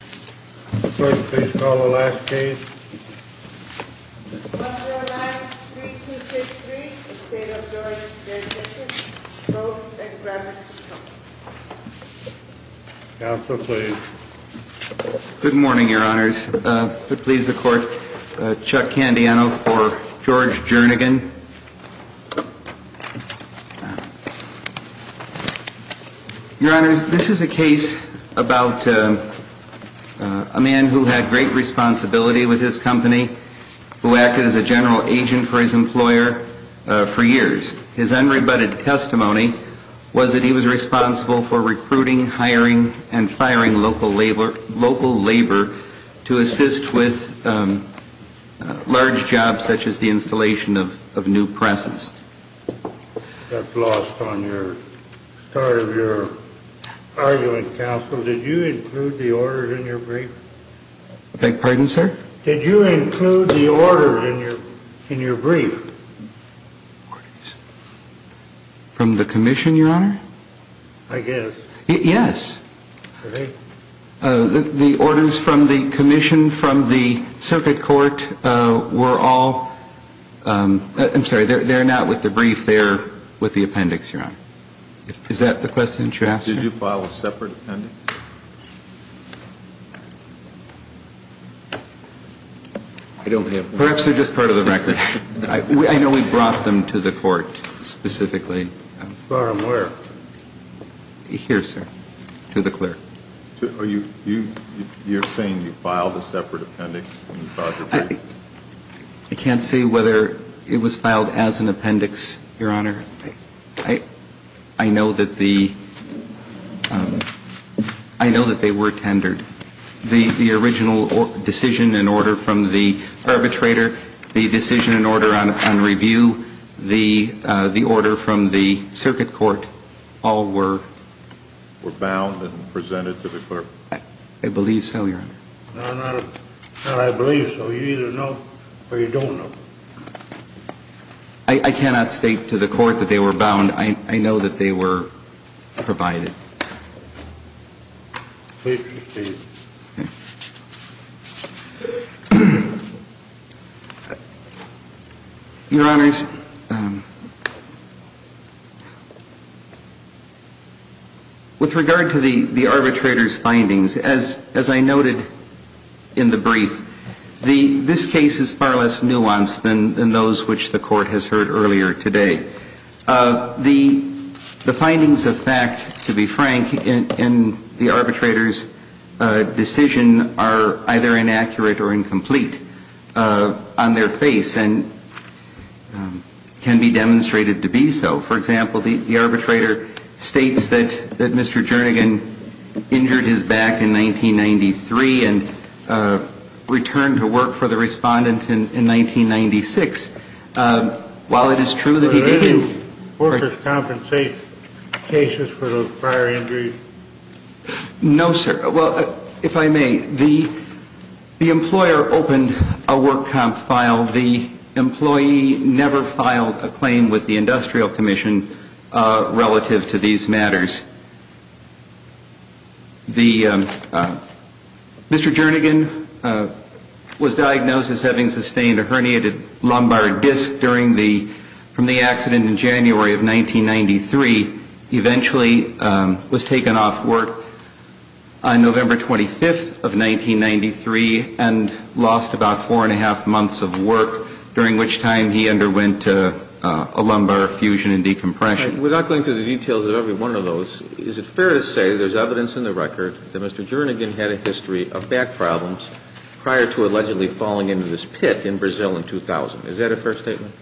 First, please call the last case. Counsel, please. Good morning, Your Honors. Please, the Court. Chuck Candiano for George Jernigan. Your Honors, this is a case about a man who had great responsibility with his company, who acted as a general agent for his employer for years. His unrebutted testimony was that he was responsible for recruiting, hiring, and firing local labor to assist with large jobs, such as the installation of new presses. At the start of your argument, Counsel, did you include the orders in your brief? I beg your pardon, sir? Did you include the orders in your brief? From the Commission, Your Honor? I guess. Yes. Did they? The orders from the Commission, from the Circuit Court, were all, I'm sorry, they're not with the brief, they're with the appendix, Your Honor. Is that the question that you're asking? Did you file a separate appendix? I don't have one. Perhaps they're just part of the record. I know we brought them to the Court, specifically. Where? Here, sir, to the clerk. You're saying you filed a separate appendix when you filed your brief? I can't say whether it was filed as an appendix, Your Honor. I know that the, I know that they were tendered. The original decision and order from the arbitrator, the decision and order on review, the order from the Circuit Court, all were? Were bound and presented to the clerk. I believe so, Your Honor. I believe so. You either know or you don't know. I cannot state to the Court that they were bound. I know that they were provided. Please proceed. Your Honors, with regard to the arbitrator's findings, as I noted in the brief, this case is far less nuanced than those which the Court has heard earlier today. The findings of fact, to be frank, in the arbitrator's decision are either inaccurate or incomplete on their face and can be demonstrated to be so. For example, the arbitrator states that Mr. Jernigan injured his back in 1993 and returned to work for the Respondent in 1996. While it is true that he did. Did any workers compensate cases for those prior injuries? No, sir. Well, if I may, the employer opened a work comp file. The employee never filed a claim with the Industrial Commission relative to these matters. Mr. Jernigan was diagnosed as having sustained a herniated lumbar disc from the accident in January of 1993. He eventually was taken off work on November 25th of 1993 and lost about four and a half months of work, during which time he underwent a lumbar fusion and decompression. Without going through the details of every one of those, is it fair to say there's evidence in the record that Mr. Jernigan had a history of back problems prior to allegedly falling into this pit in Brazil in 2000? Is that a fair statement?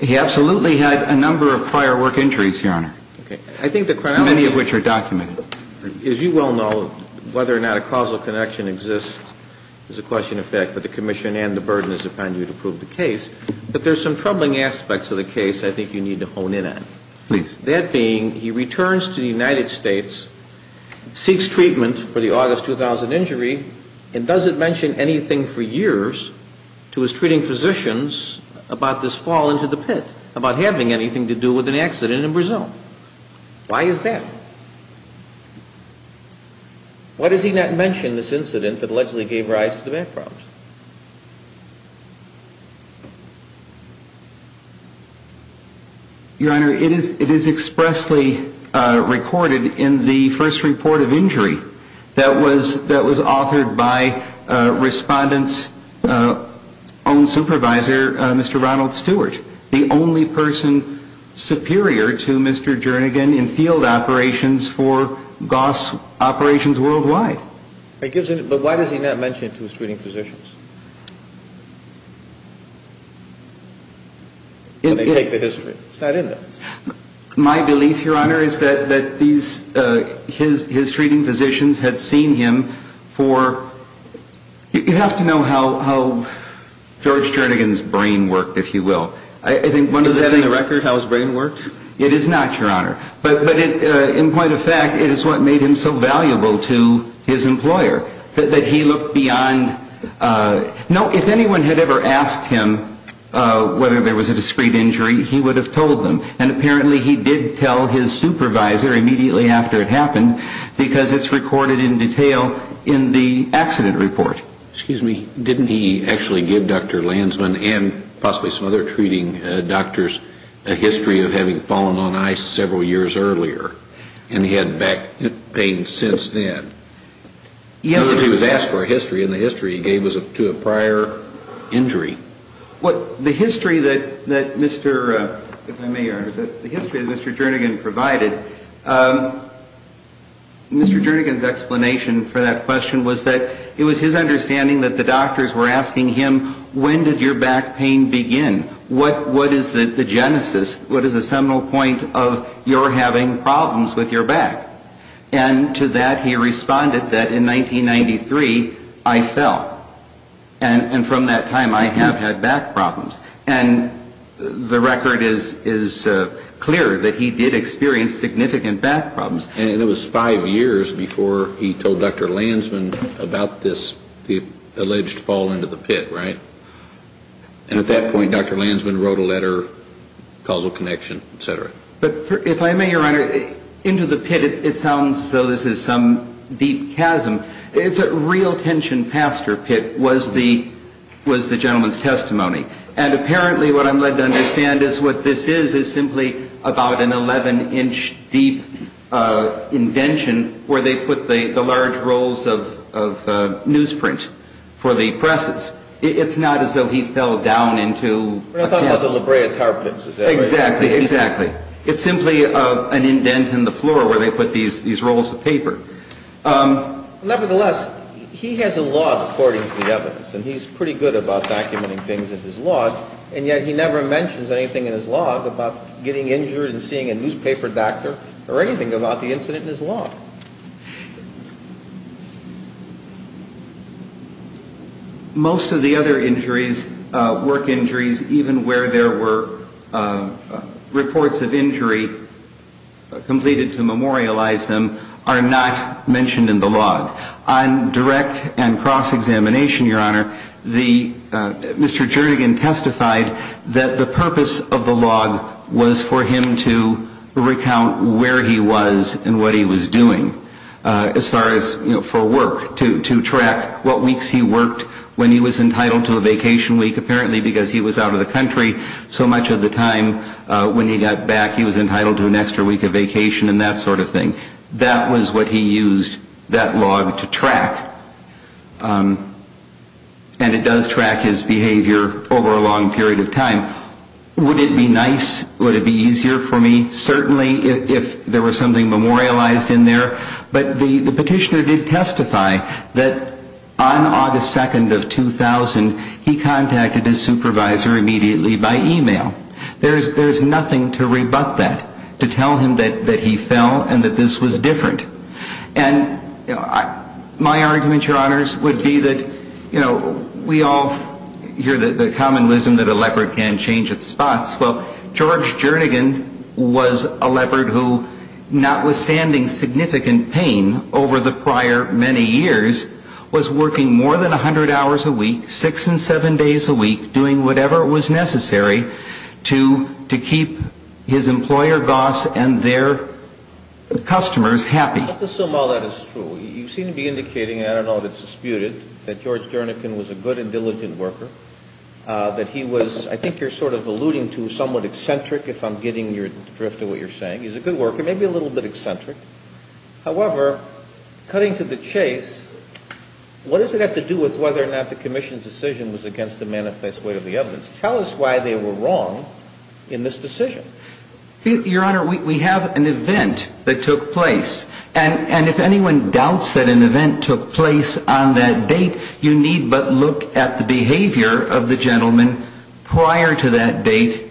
He absolutely had a number of firework injuries, Your Honor, many of which are documented. As you well know, whether or not a causal connection exists is a question of fact, but the Commission and the burden is upon you to prove the case. But there's some troubling aspects of the case I think you need to hone in on. Please. That being, he returns to the United States, seeks treatment for the August 2000 injury, and doesn't mention anything for years to his treating physicians about this fall into the pit, about having anything to do with an accident in Brazil. Why is that? Why does he not mention this incident that allegedly gave rise to the back problems? Your Honor, it is expressly recorded in the first report of injury that was authored by Respondent's own supervisor, Mr. Ronald Stewart, the only person superior to Mr. Jernigan in field operations for Goss operations worldwide. But why does he not mention it to his treating physicians? Let me take the history. It's not in there. My belief, Your Honor, is that his treating physicians had seen him for, you have to know how George Jernigan's brain worked, if you will. Is that in the record, how his brain worked? It is not, Your Honor. But in point of fact, it is what made him so valuable to his employer, that he looked beyond, no, if anyone had ever asked him whether there was a discreet injury, he would have told them. And apparently he did tell his supervisor immediately after it happened, because it's recorded in detail in the accident report. Excuse me. Didn't he actually give Dr. Lansman and possibly some other treating doctors a history of having fallen on ice several years earlier? And he had back pain since then? Yes. Because he was asked for a history, and the history he gave was to a prior injury. The history that Mr. Jernigan provided, Mr. Jernigan's explanation for that question was that it was his understanding that the doctors were asking him, when did your back pain begin, what is the genesis, what is the seminal point of your having problems with your back? And to that he responded that in 1993, I fell. And from that time, I have had back problems. And the record is clear that he did experience significant back problems. And it was five years before he told Dr. Lansman about this alleged fall into the pit, right? And at that point, Dr. Lansman wrote a letter, causal connection, et cetera. But if I may, Your Honor, into the pit, it sounds as though this is some deep chasm. It's a real tension pastor pit was the gentleman's testimony. And apparently what I'm led to understand is what this is is simply about an 11-inch deep indention where they put the large rolls of newsprint for the presses. It's not as though he fell down into a chasm. We're not talking about the La Brea Tar Pits, is that right? Exactly, exactly. It's simply an indent in the floor where they put these rolls of paper. Nevertheless, he has a log according to the evidence, and he's pretty good about documenting things in his log. And yet he never mentions anything in his log about getting injured and seeing a newspaper doctor or anything about the incident in his log. Most of the other injuries, work injuries, even where there were reports of injury completed to memorialize them, are not mentioned in the log. On direct and cross-examination, Your Honor, Mr. Jernigan testified that the purpose of the log was for him to recount where he was and what he was doing. As far as for work, to track what weeks he worked, when he was entitled to a vacation week, apparently because he was out of the country so much of the time. When he got back, he was entitled to an extra week of vacation and that sort of thing. That was what he used that log to track. And it does track his behavior over a long period of time. Would it be nice? Would it be easier for me? Certainly, if there was something memorialized in there. But the petitioner did testify that on August 2nd of 2000, he contacted his supervisor immediately by email. There's nothing to rebut that, to tell him that he fell and that this was different. And my argument, Your Honors, would be that we all hear the common wisdom that a leopard can't change its spots. Well, George Jernigan was a leopard who, notwithstanding significant pain over the prior many years, was working more than 100 hours a week, six and seven days a week, doing whatever was necessary to keep his employer, Goss, and their customers happy. Let's assume all that is true. You seem to be indicating, I don't know if it's disputed, that George Jernigan was a good and diligent worker. That he was, I think you're sort of alluding to somewhat eccentric, if I'm getting your drift of what you're saying. He's a good worker, maybe a little bit eccentric. However, cutting to the chase, what does it have to do with whether or not the Commission's decision was against the manifest weight of the evidence? Tell us why they were wrong in this decision. Your Honor, we have an event that took place. And if anyone doubts that an event took place on that date, you need but look at the behavior of the gentleman prior to that date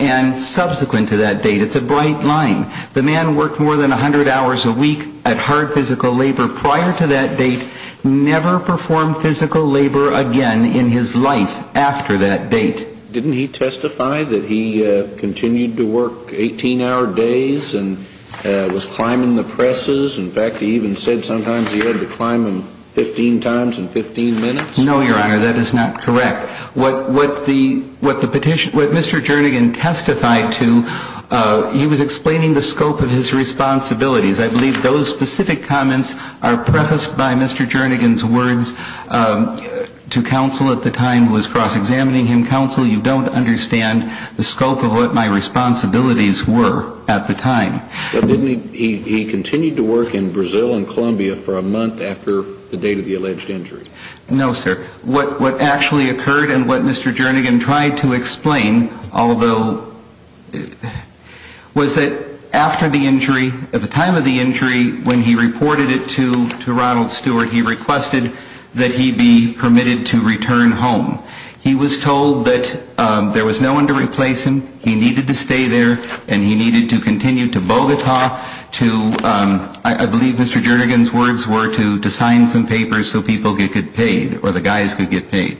and subsequent to that date. It's a bright line. The man worked more than 100 hours a week at hard physical labor. Prior to that date, never performed physical labor again in his life after that date. Didn't he testify that he continued to work 18-hour days and was climbing the presses? In fact, he even said sometimes he had to climb them 15 times in 15 minutes? No, Your Honor, that is not correct. What Mr. Jernigan testified to, he was explaining the scope of his responsibilities. I believe those specific comments are prefaced by Mr. Jernigan's words to counsel at the time who was cross-examining him. Counsel, you don't understand the scope of what my responsibilities were at the time. But didn't he continue to work in Brazil and Colombia for a month after the date of the alleged injury? No, sir. What actually occurred and what Mr. Jernigan tried to explain, although, was that after the injury, at the time of the injury, when he reported it to Ronald Stewart, he requested that he be permitted to return home. He was told that there was no one to replace him. He needed to stay there and he needed to continue to Bogota to, I believe Mr. Jernigan's words were, to sign some papers so people could get paid or the guys could get paid,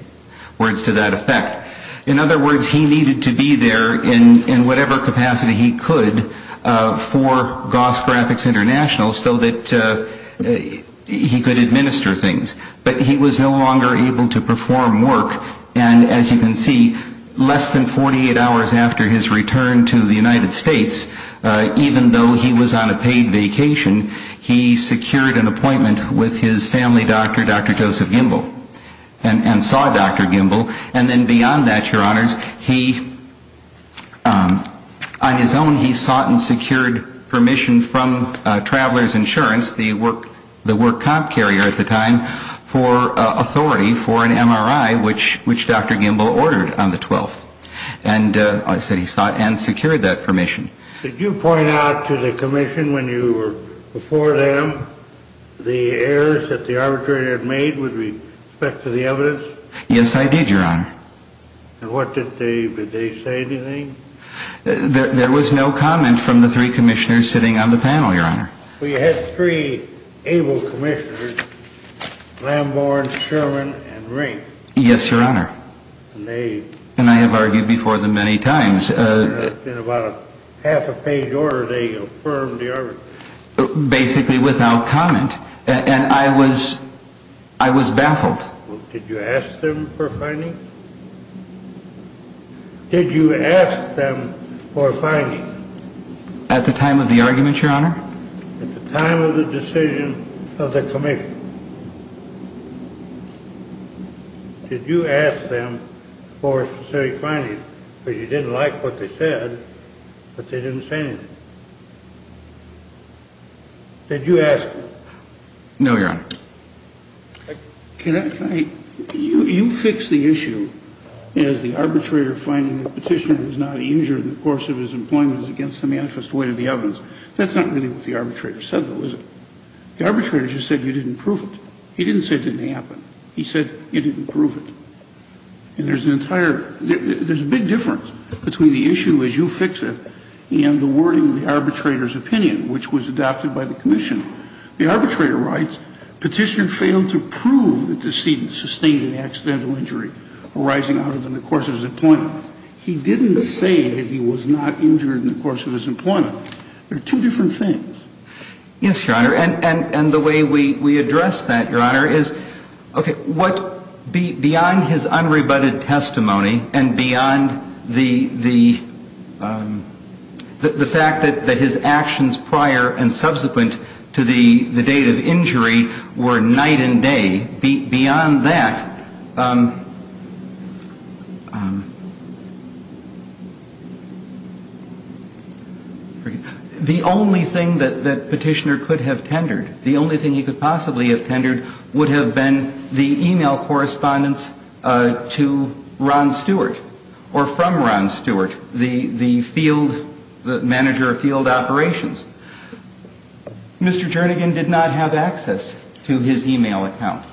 words to that effect. In other words, he needed to be there in whatever capacity he could for Goss Graphics International so that he could administer things. But he was no longer able to perform work. And as you can see, less than 48 hours after his return to the United States, even though he was on a paid vacation, he secured an appointment with his family doctor, Dr. Joseph Gimbel, and saw Dr. Gimbel. And then beyond that, your honors, he, on his own, he sought and secured permission from Traveler's Insurance, the work comp carrier at the time, for authority for an MRI, which Dr. Gimbel ordered on the 12th. And I said he sought and secured that permission. Did you point out to the commission when you were before them the errors that the arbitrator had made with respect to the evidence? Yes, I did, your honor. And what did they, did they say anything? There was no comment from the three commissioners sitting on the panel, your honor. Well, you had three able commissioners, Lamborn, Sherman, and Rank. Yes, your honor. And they... And I have argued before them many times. In about a half a page order, they affirmed the argument. Basically without comment. And I was, I was baffled. Well, did you ask them for a finding? Did you ask them for a finding? At the time of the argument, your honor? At the time of the decision of the commission. Did you ask them for a specific finding? Because you didn't like what they said, but they didn't say anything. Did you ask them? No, your honor. Can I, can I, you, you fixed the issue as the arbitrator finding the petitioner who's not injured in the course of his employment is against the manifest weight of the evidence. That's not really what the arbitrator said though, is it? The arbitrator just said you didn't prove it. He didn't say it didn't happen. He said you didn't prove it. And there's an entire, there's a big difference between the issue as you fix it and the wording of the arbitrator's opinion, which was adopted by the commission. The arbitrator writes, petitioner failed to prove the decedent sustained an accidental injury arising out of the course of his employment. He didn't say that he was not injured in the course of his employment. They're two different things. Yes, your honor. And, and, and the way we, we address that, your honor, is, okay, what, beyond his unrebutted testimony and beyond the, the, the fact that, that his actions prior and subsequent to the, the date of injury were night and day, beyond that, the only thing that, that petitioner could have tendered, the only thing he could possibly have tendered would have been the e-mail correspondence to Ron Stewart or from Ron Stewart, the, the field, the manager of field operations. Mr. Jernigan did not have access to his e-mail account.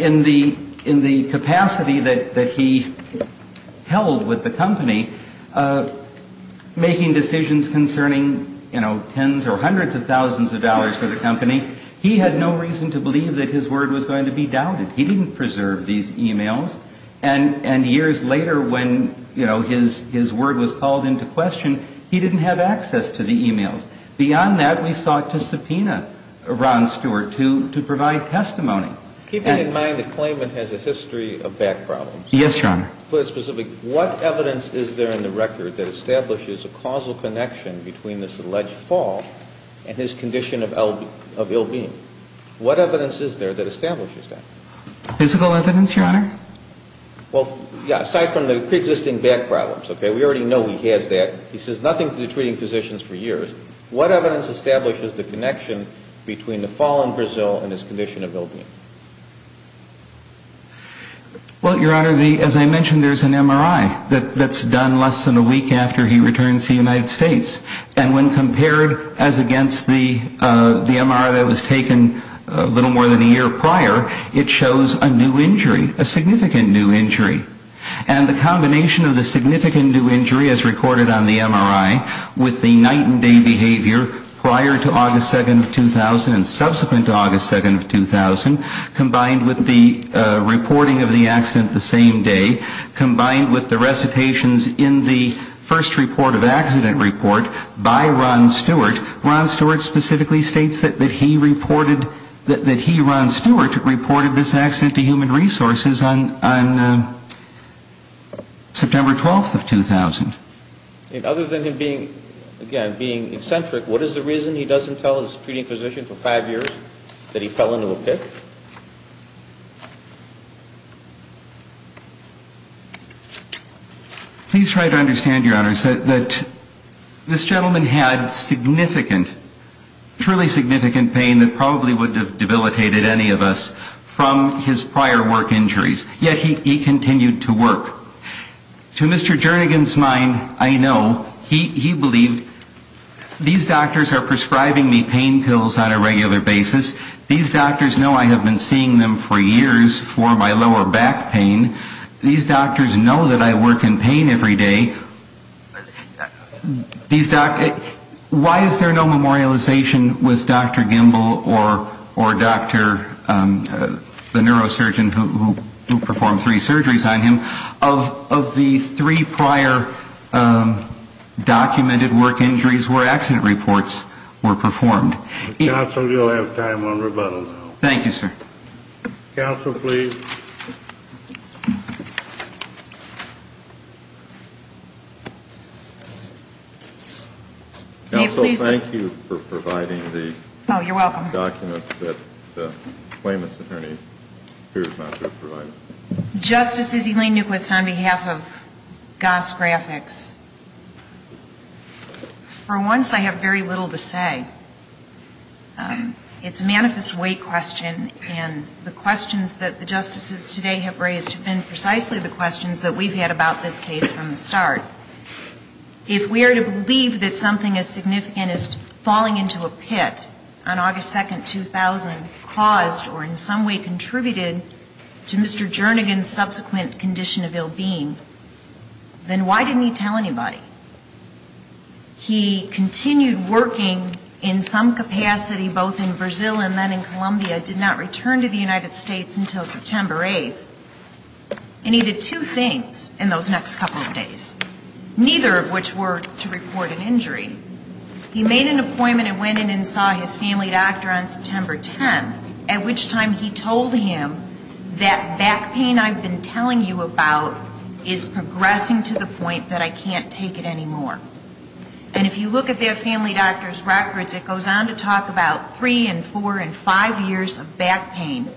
In the, in the capacity that, that he held with the company, making decisions concerning, you know, tens or hundreds of thousands of dollars for the company, he had no reason to believe that his word was going to be doubted. He didn't preserve these e-mails. And, and years later when, you know, his, his word was called into question, he didn't have access to the e-mails. Beyond that, we sought to subpoena Ron Stewart to, to provide testimony. Keeping in mind the claimant has a history of back problems. Yes, your honor. Put it specifically. What evidence is there in the record that establishes a causal connection between this alleged fall and his condition of ill, of ill-being? What evidence is there that establishes that? Physical evidence, your honor. Well, yeah, aside from the pre-existing back problems, okay, we already know he has that. He says nothing to the treating physicians for years. What evidence establishes the connection between the fall in Brazil and his condition of ill-being? Well, your honor, the, as I mentioned, there's an MRI that, that's done less than a week after he returns to the United States. And when compared as against the, the MRI that was taken a little more than a year prior, it shows a new injury, a significant new injury. And the combination of the significant new injury as recorded on the MRI with the night and day behavior prior to August 2nd of 2000 and subsequent to August 2nd of 2000, combined with the reporting of the accident the same day, combined with the recitations in the first report of accident report by Ron Stewart, Ron Stewart specifically states that he reported, that he, Ron Stewart, reported this accident to Human Resources on, on September 12th of 2000. And other than him being, again, being eccentric, what is the reason he doesn't tell his treating physician for five years that he fell into a pit? Please try to understand, your honors, that, that this gentleman had significant, truly significant pain that probably would have debilitated any of us from his prior work injuries. To Mr. Jernigan's mind, I know, he, he believed, these doctors are prescribing me pain pills on a regular basis. These doctors know I have been seeing them for years for my lower back pain. These doctors know that I work in pain every day. These doctors, why is there no memorialization with Dr. Gimbel or, or Dr., the neurosurgeon who, who performed three surgeries on him of, of the three prior documented work injuries where accident reports were performed? Counsel, you'll have time on rebuttal now. Thank you, sir. Counsel, please. Counsel, thank you for providing the documents. Oh, you're welcome. The documents that the claimant's attorney, Superior Counsel, provided. Justices, Elaine Newquist on behalf of Goss Graphics. For once, I have very little to say. It's a manifest weight question, and the questions that the justices today have raised have been precisely the questions that we've had about this case from the start. If we are to believe that something as significant as falling into a pit on August 2nd, 2000, caused or in some way contributed to Mr. Jernigan's subsequent condition of ill-being, then why didn't he tell anybody? He continued working in some capacity both in Brazil and then in Colombia, did not return to the United States until September 8th. And he did two things in those next couple of days, neither of which were to report an injury. He made an appointment and went in and saw his family doctor on September 10th, at which time he told him that back pain I've been telling you about is progressing to the point that I can't take it anymore. And if you look at their family doctor's records, it goes on to talk about three and four and five years of back pain,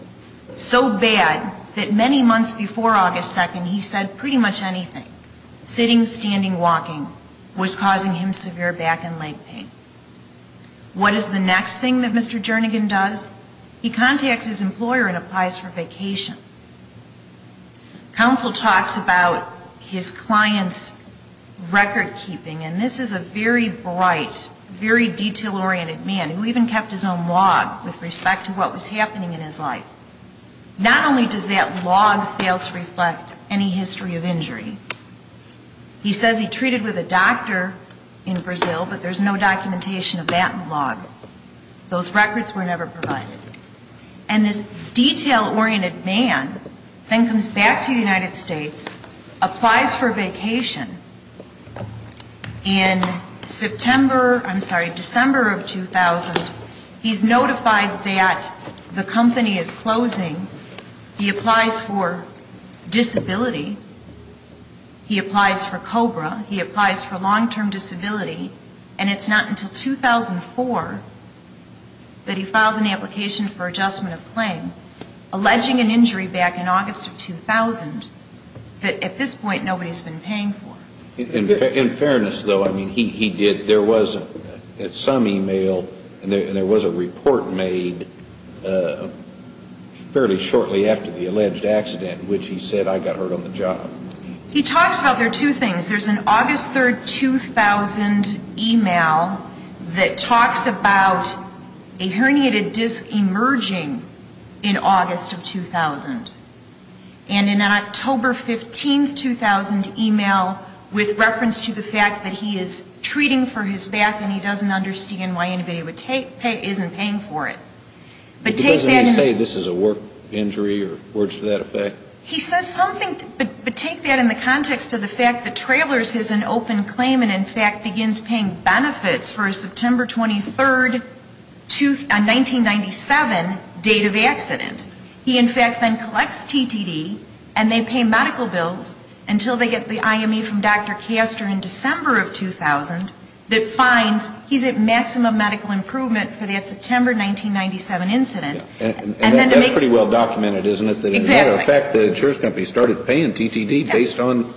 so bad that many months before August 2nd, he said pretty much anything, sitting, standing, walking, was causing him severe back and leg pain. What is the next thing that Mr. Jernigan does? He contacts his employer and applies for vacation. Counsel talks about his client's record keeping, and this is a very bright, very detail-oriented man, who even kept his own log with respect to what was happening in his life. Not only does that log fail to reflect any history of injury, he says he treated with a doctor in Brazil, but there's no documentation of that log. Those records were never provided. And this detail-oriented man then comes back to the United States, applies for vacation, and September, I'm sorry, December of 2000, he's notified that the company is closing, he applies for disability, he applies for COBRA, he applies for long-term disability, and it's not until 2004 that he files an application for adjustment of claim, alleging an injury back in August of 2000 that at this point nobody's been paying for. In fairness, though, I mean, he did, there was some e-mail, and there was a report made fairly shortly after the alleged accident, which he said, I got hurt on the job. He talks about, there are two things. There's an August 3rd, 2000 e-mail that talks about a herniated disc emerging in August of 2000, and an October 15th, 2000 e-mail with reference to the fact that he is treating for his back and he doesn't understand why anybody isn't paying for it. But take that in the context of the fact that Trailers is an open claim and in fact begins paying benefits for a September 23rd, 1997 date, date of accident. He, in fact, then collects TTD and they pay medical bills until they get the IME from Dr. Caster in December of 2000 that finds he's at maximum medical improvement for that September 1997 incident. And that's pretty well documented, isn't it? Exactly. The insurance company started paying TTD based on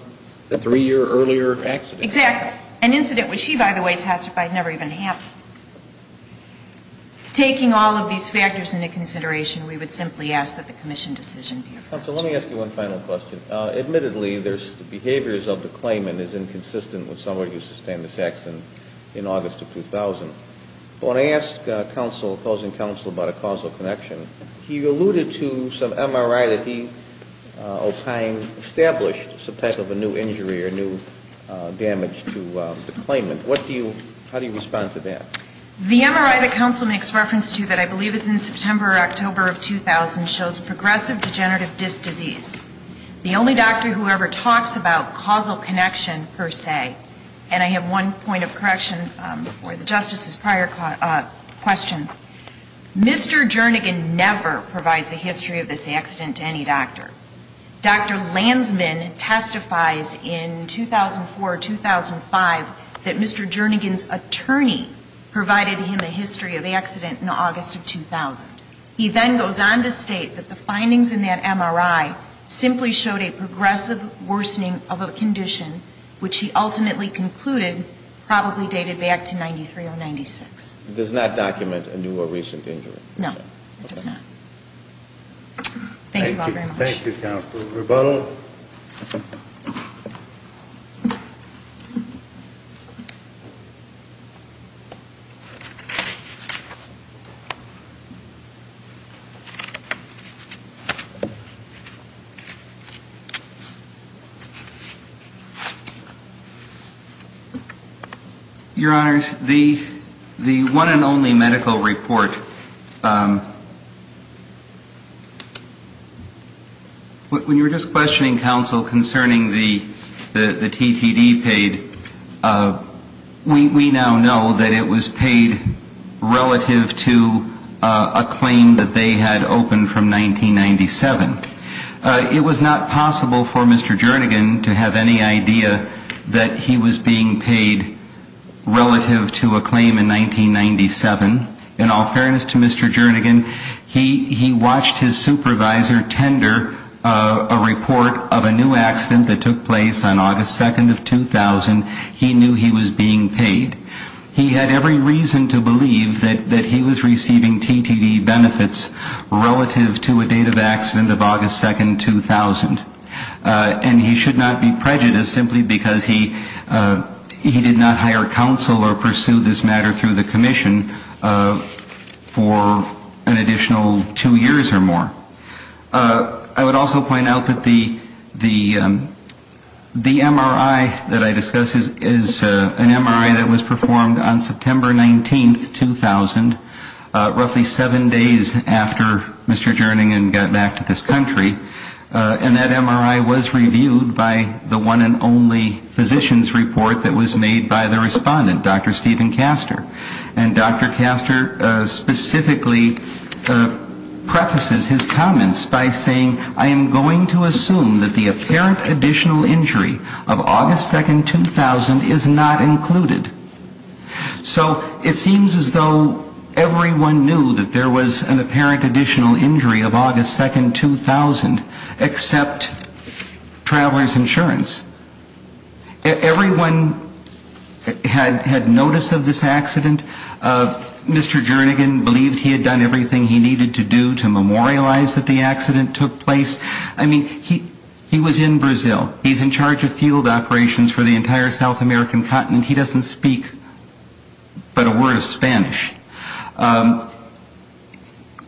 the three-year earlier accident. Exactly. An incident which he, by the way, testified never even happened. Taking all of these factors into consideration, we would simply ask that the commission decision be approved. Counsel, let me ask you one final question. Admittedly, the behaviors of the claimant is inconsistent with some of what you sustained in Saxon in August of 2000. But when I asked counsel, opposing counsel, about a causal connection, he alluded to some MRI that he, over time, established some type of a new injury or new damage to the claimant. How do you respond to that? The MRI that counsel makes reference to that I believe is in September or October of 2000 shows progressive degenerative disc disease. The only doctor who ever talks about causal connection, per se, and I have one point of correction for the Justice's prior question. Mr. Jernigan never provides a history of this accident to any doctor. Dr. Lansman testifies in 2004, 2005, that Mr. Jernigan's attorney provided him a history of the accident in August of 2000. He then goes on to state that the findings in that MRI simply showed a progressive worsening of a condition which he ultimately concluded probably dated back to 93 or 96. It does not document a new or recent injury. No, it does not. Thank you all very much. Thank you, counsel. Rebuttal. Your Honors, the one and only medical report, when you were just questioning counsel concerning the TTD paid, we now know that it was paid relative to a claim that they had opened from 1997. It was not possible for Mr. Jernigan to have any idea that he was being paid relative to a claim in 1997. In all fairness to Mr. Jernigan, he watched his supervisor tender a report of a new accident that took place on August 2nd of 2000. He knew he was being paid. He had every reason to believe that he was receiving TTD benefits relative to a date of accident of August 2nd, 2000. And he should not be prejudiced simply because he did not hire counsel or pursue this matter through the commission for an additional two years or more. I would also point out that the MRI that I discussed is an MRI that was performed on September 19th, 2000, roughly seven days after Mr. Jernigan got back to this country, and that MRI was reviewed by the one and only physician's report that was made by the respondent, Dr. Steven Castor. And Dr. Castor specifically prefaces his comments by saying, I am going to assume that the apparent additional injury of August 2nd, 2000 is not included. So it seems as though everyone knew that there was an apparent additional injury of August 2nd, 2000, except Travelers Insurance. Everyone had notice of this accident. Mr. Jernigan believed he had done everything he needed to do to memorialize that the accident took place. I mean, he was in Brazil. He's in charge of field operations for the entire South American continent. He doesn't speak but a word of Spanish.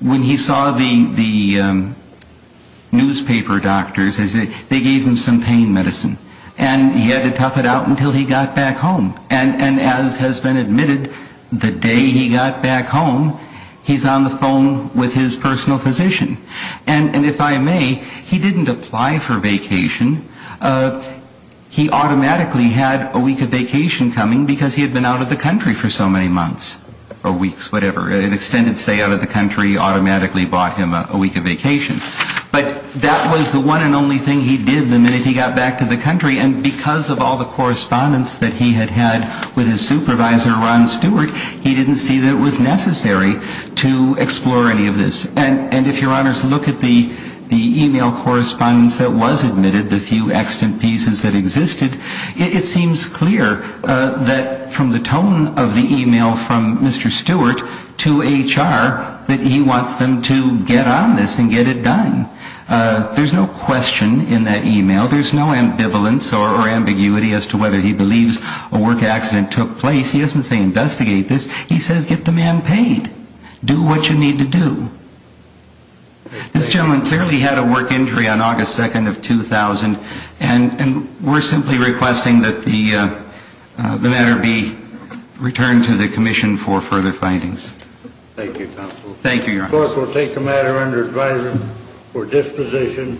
When he saw the newspaper doctors, they gave him some pain medicine. And he had to tough it out until he got back home. And as has been admitted, the day he got back home, he's on the phone with his personal physician. And if I may, he didn't apply for vacation. He automatically had a week of vacation coming because he had been out of the country for so many months or weeks, whatever. An extended stay out of the country automatically bought him a week of vacation. But that was the one and only thing he did the minute he got back to the country. And because of all the correspondence that he had had with his supervisor, Ron Stewart, he didn't see that it was necessary to explore any of this. And if your honors look at the e-mail correspondence that was admitted, the few accident pieces that existed, it seems clear that from the tone of the e-mail from Mr. Stewart to HR that he wants them to get on this and get it done. There's no question in that e-mail. There's no ambivalence or ambiguity as to whether he believes a work accident took place. He doesn't say investigate this. He says get the man paid. Do what you need to do. This gentleman clearly had a work injury on August 2nd of 2000, and we're simply requesting that the matter be returned to the commission for further findings. Thank you, counsel. Thank you, your honors. The court will take the matter under advisory for disposition.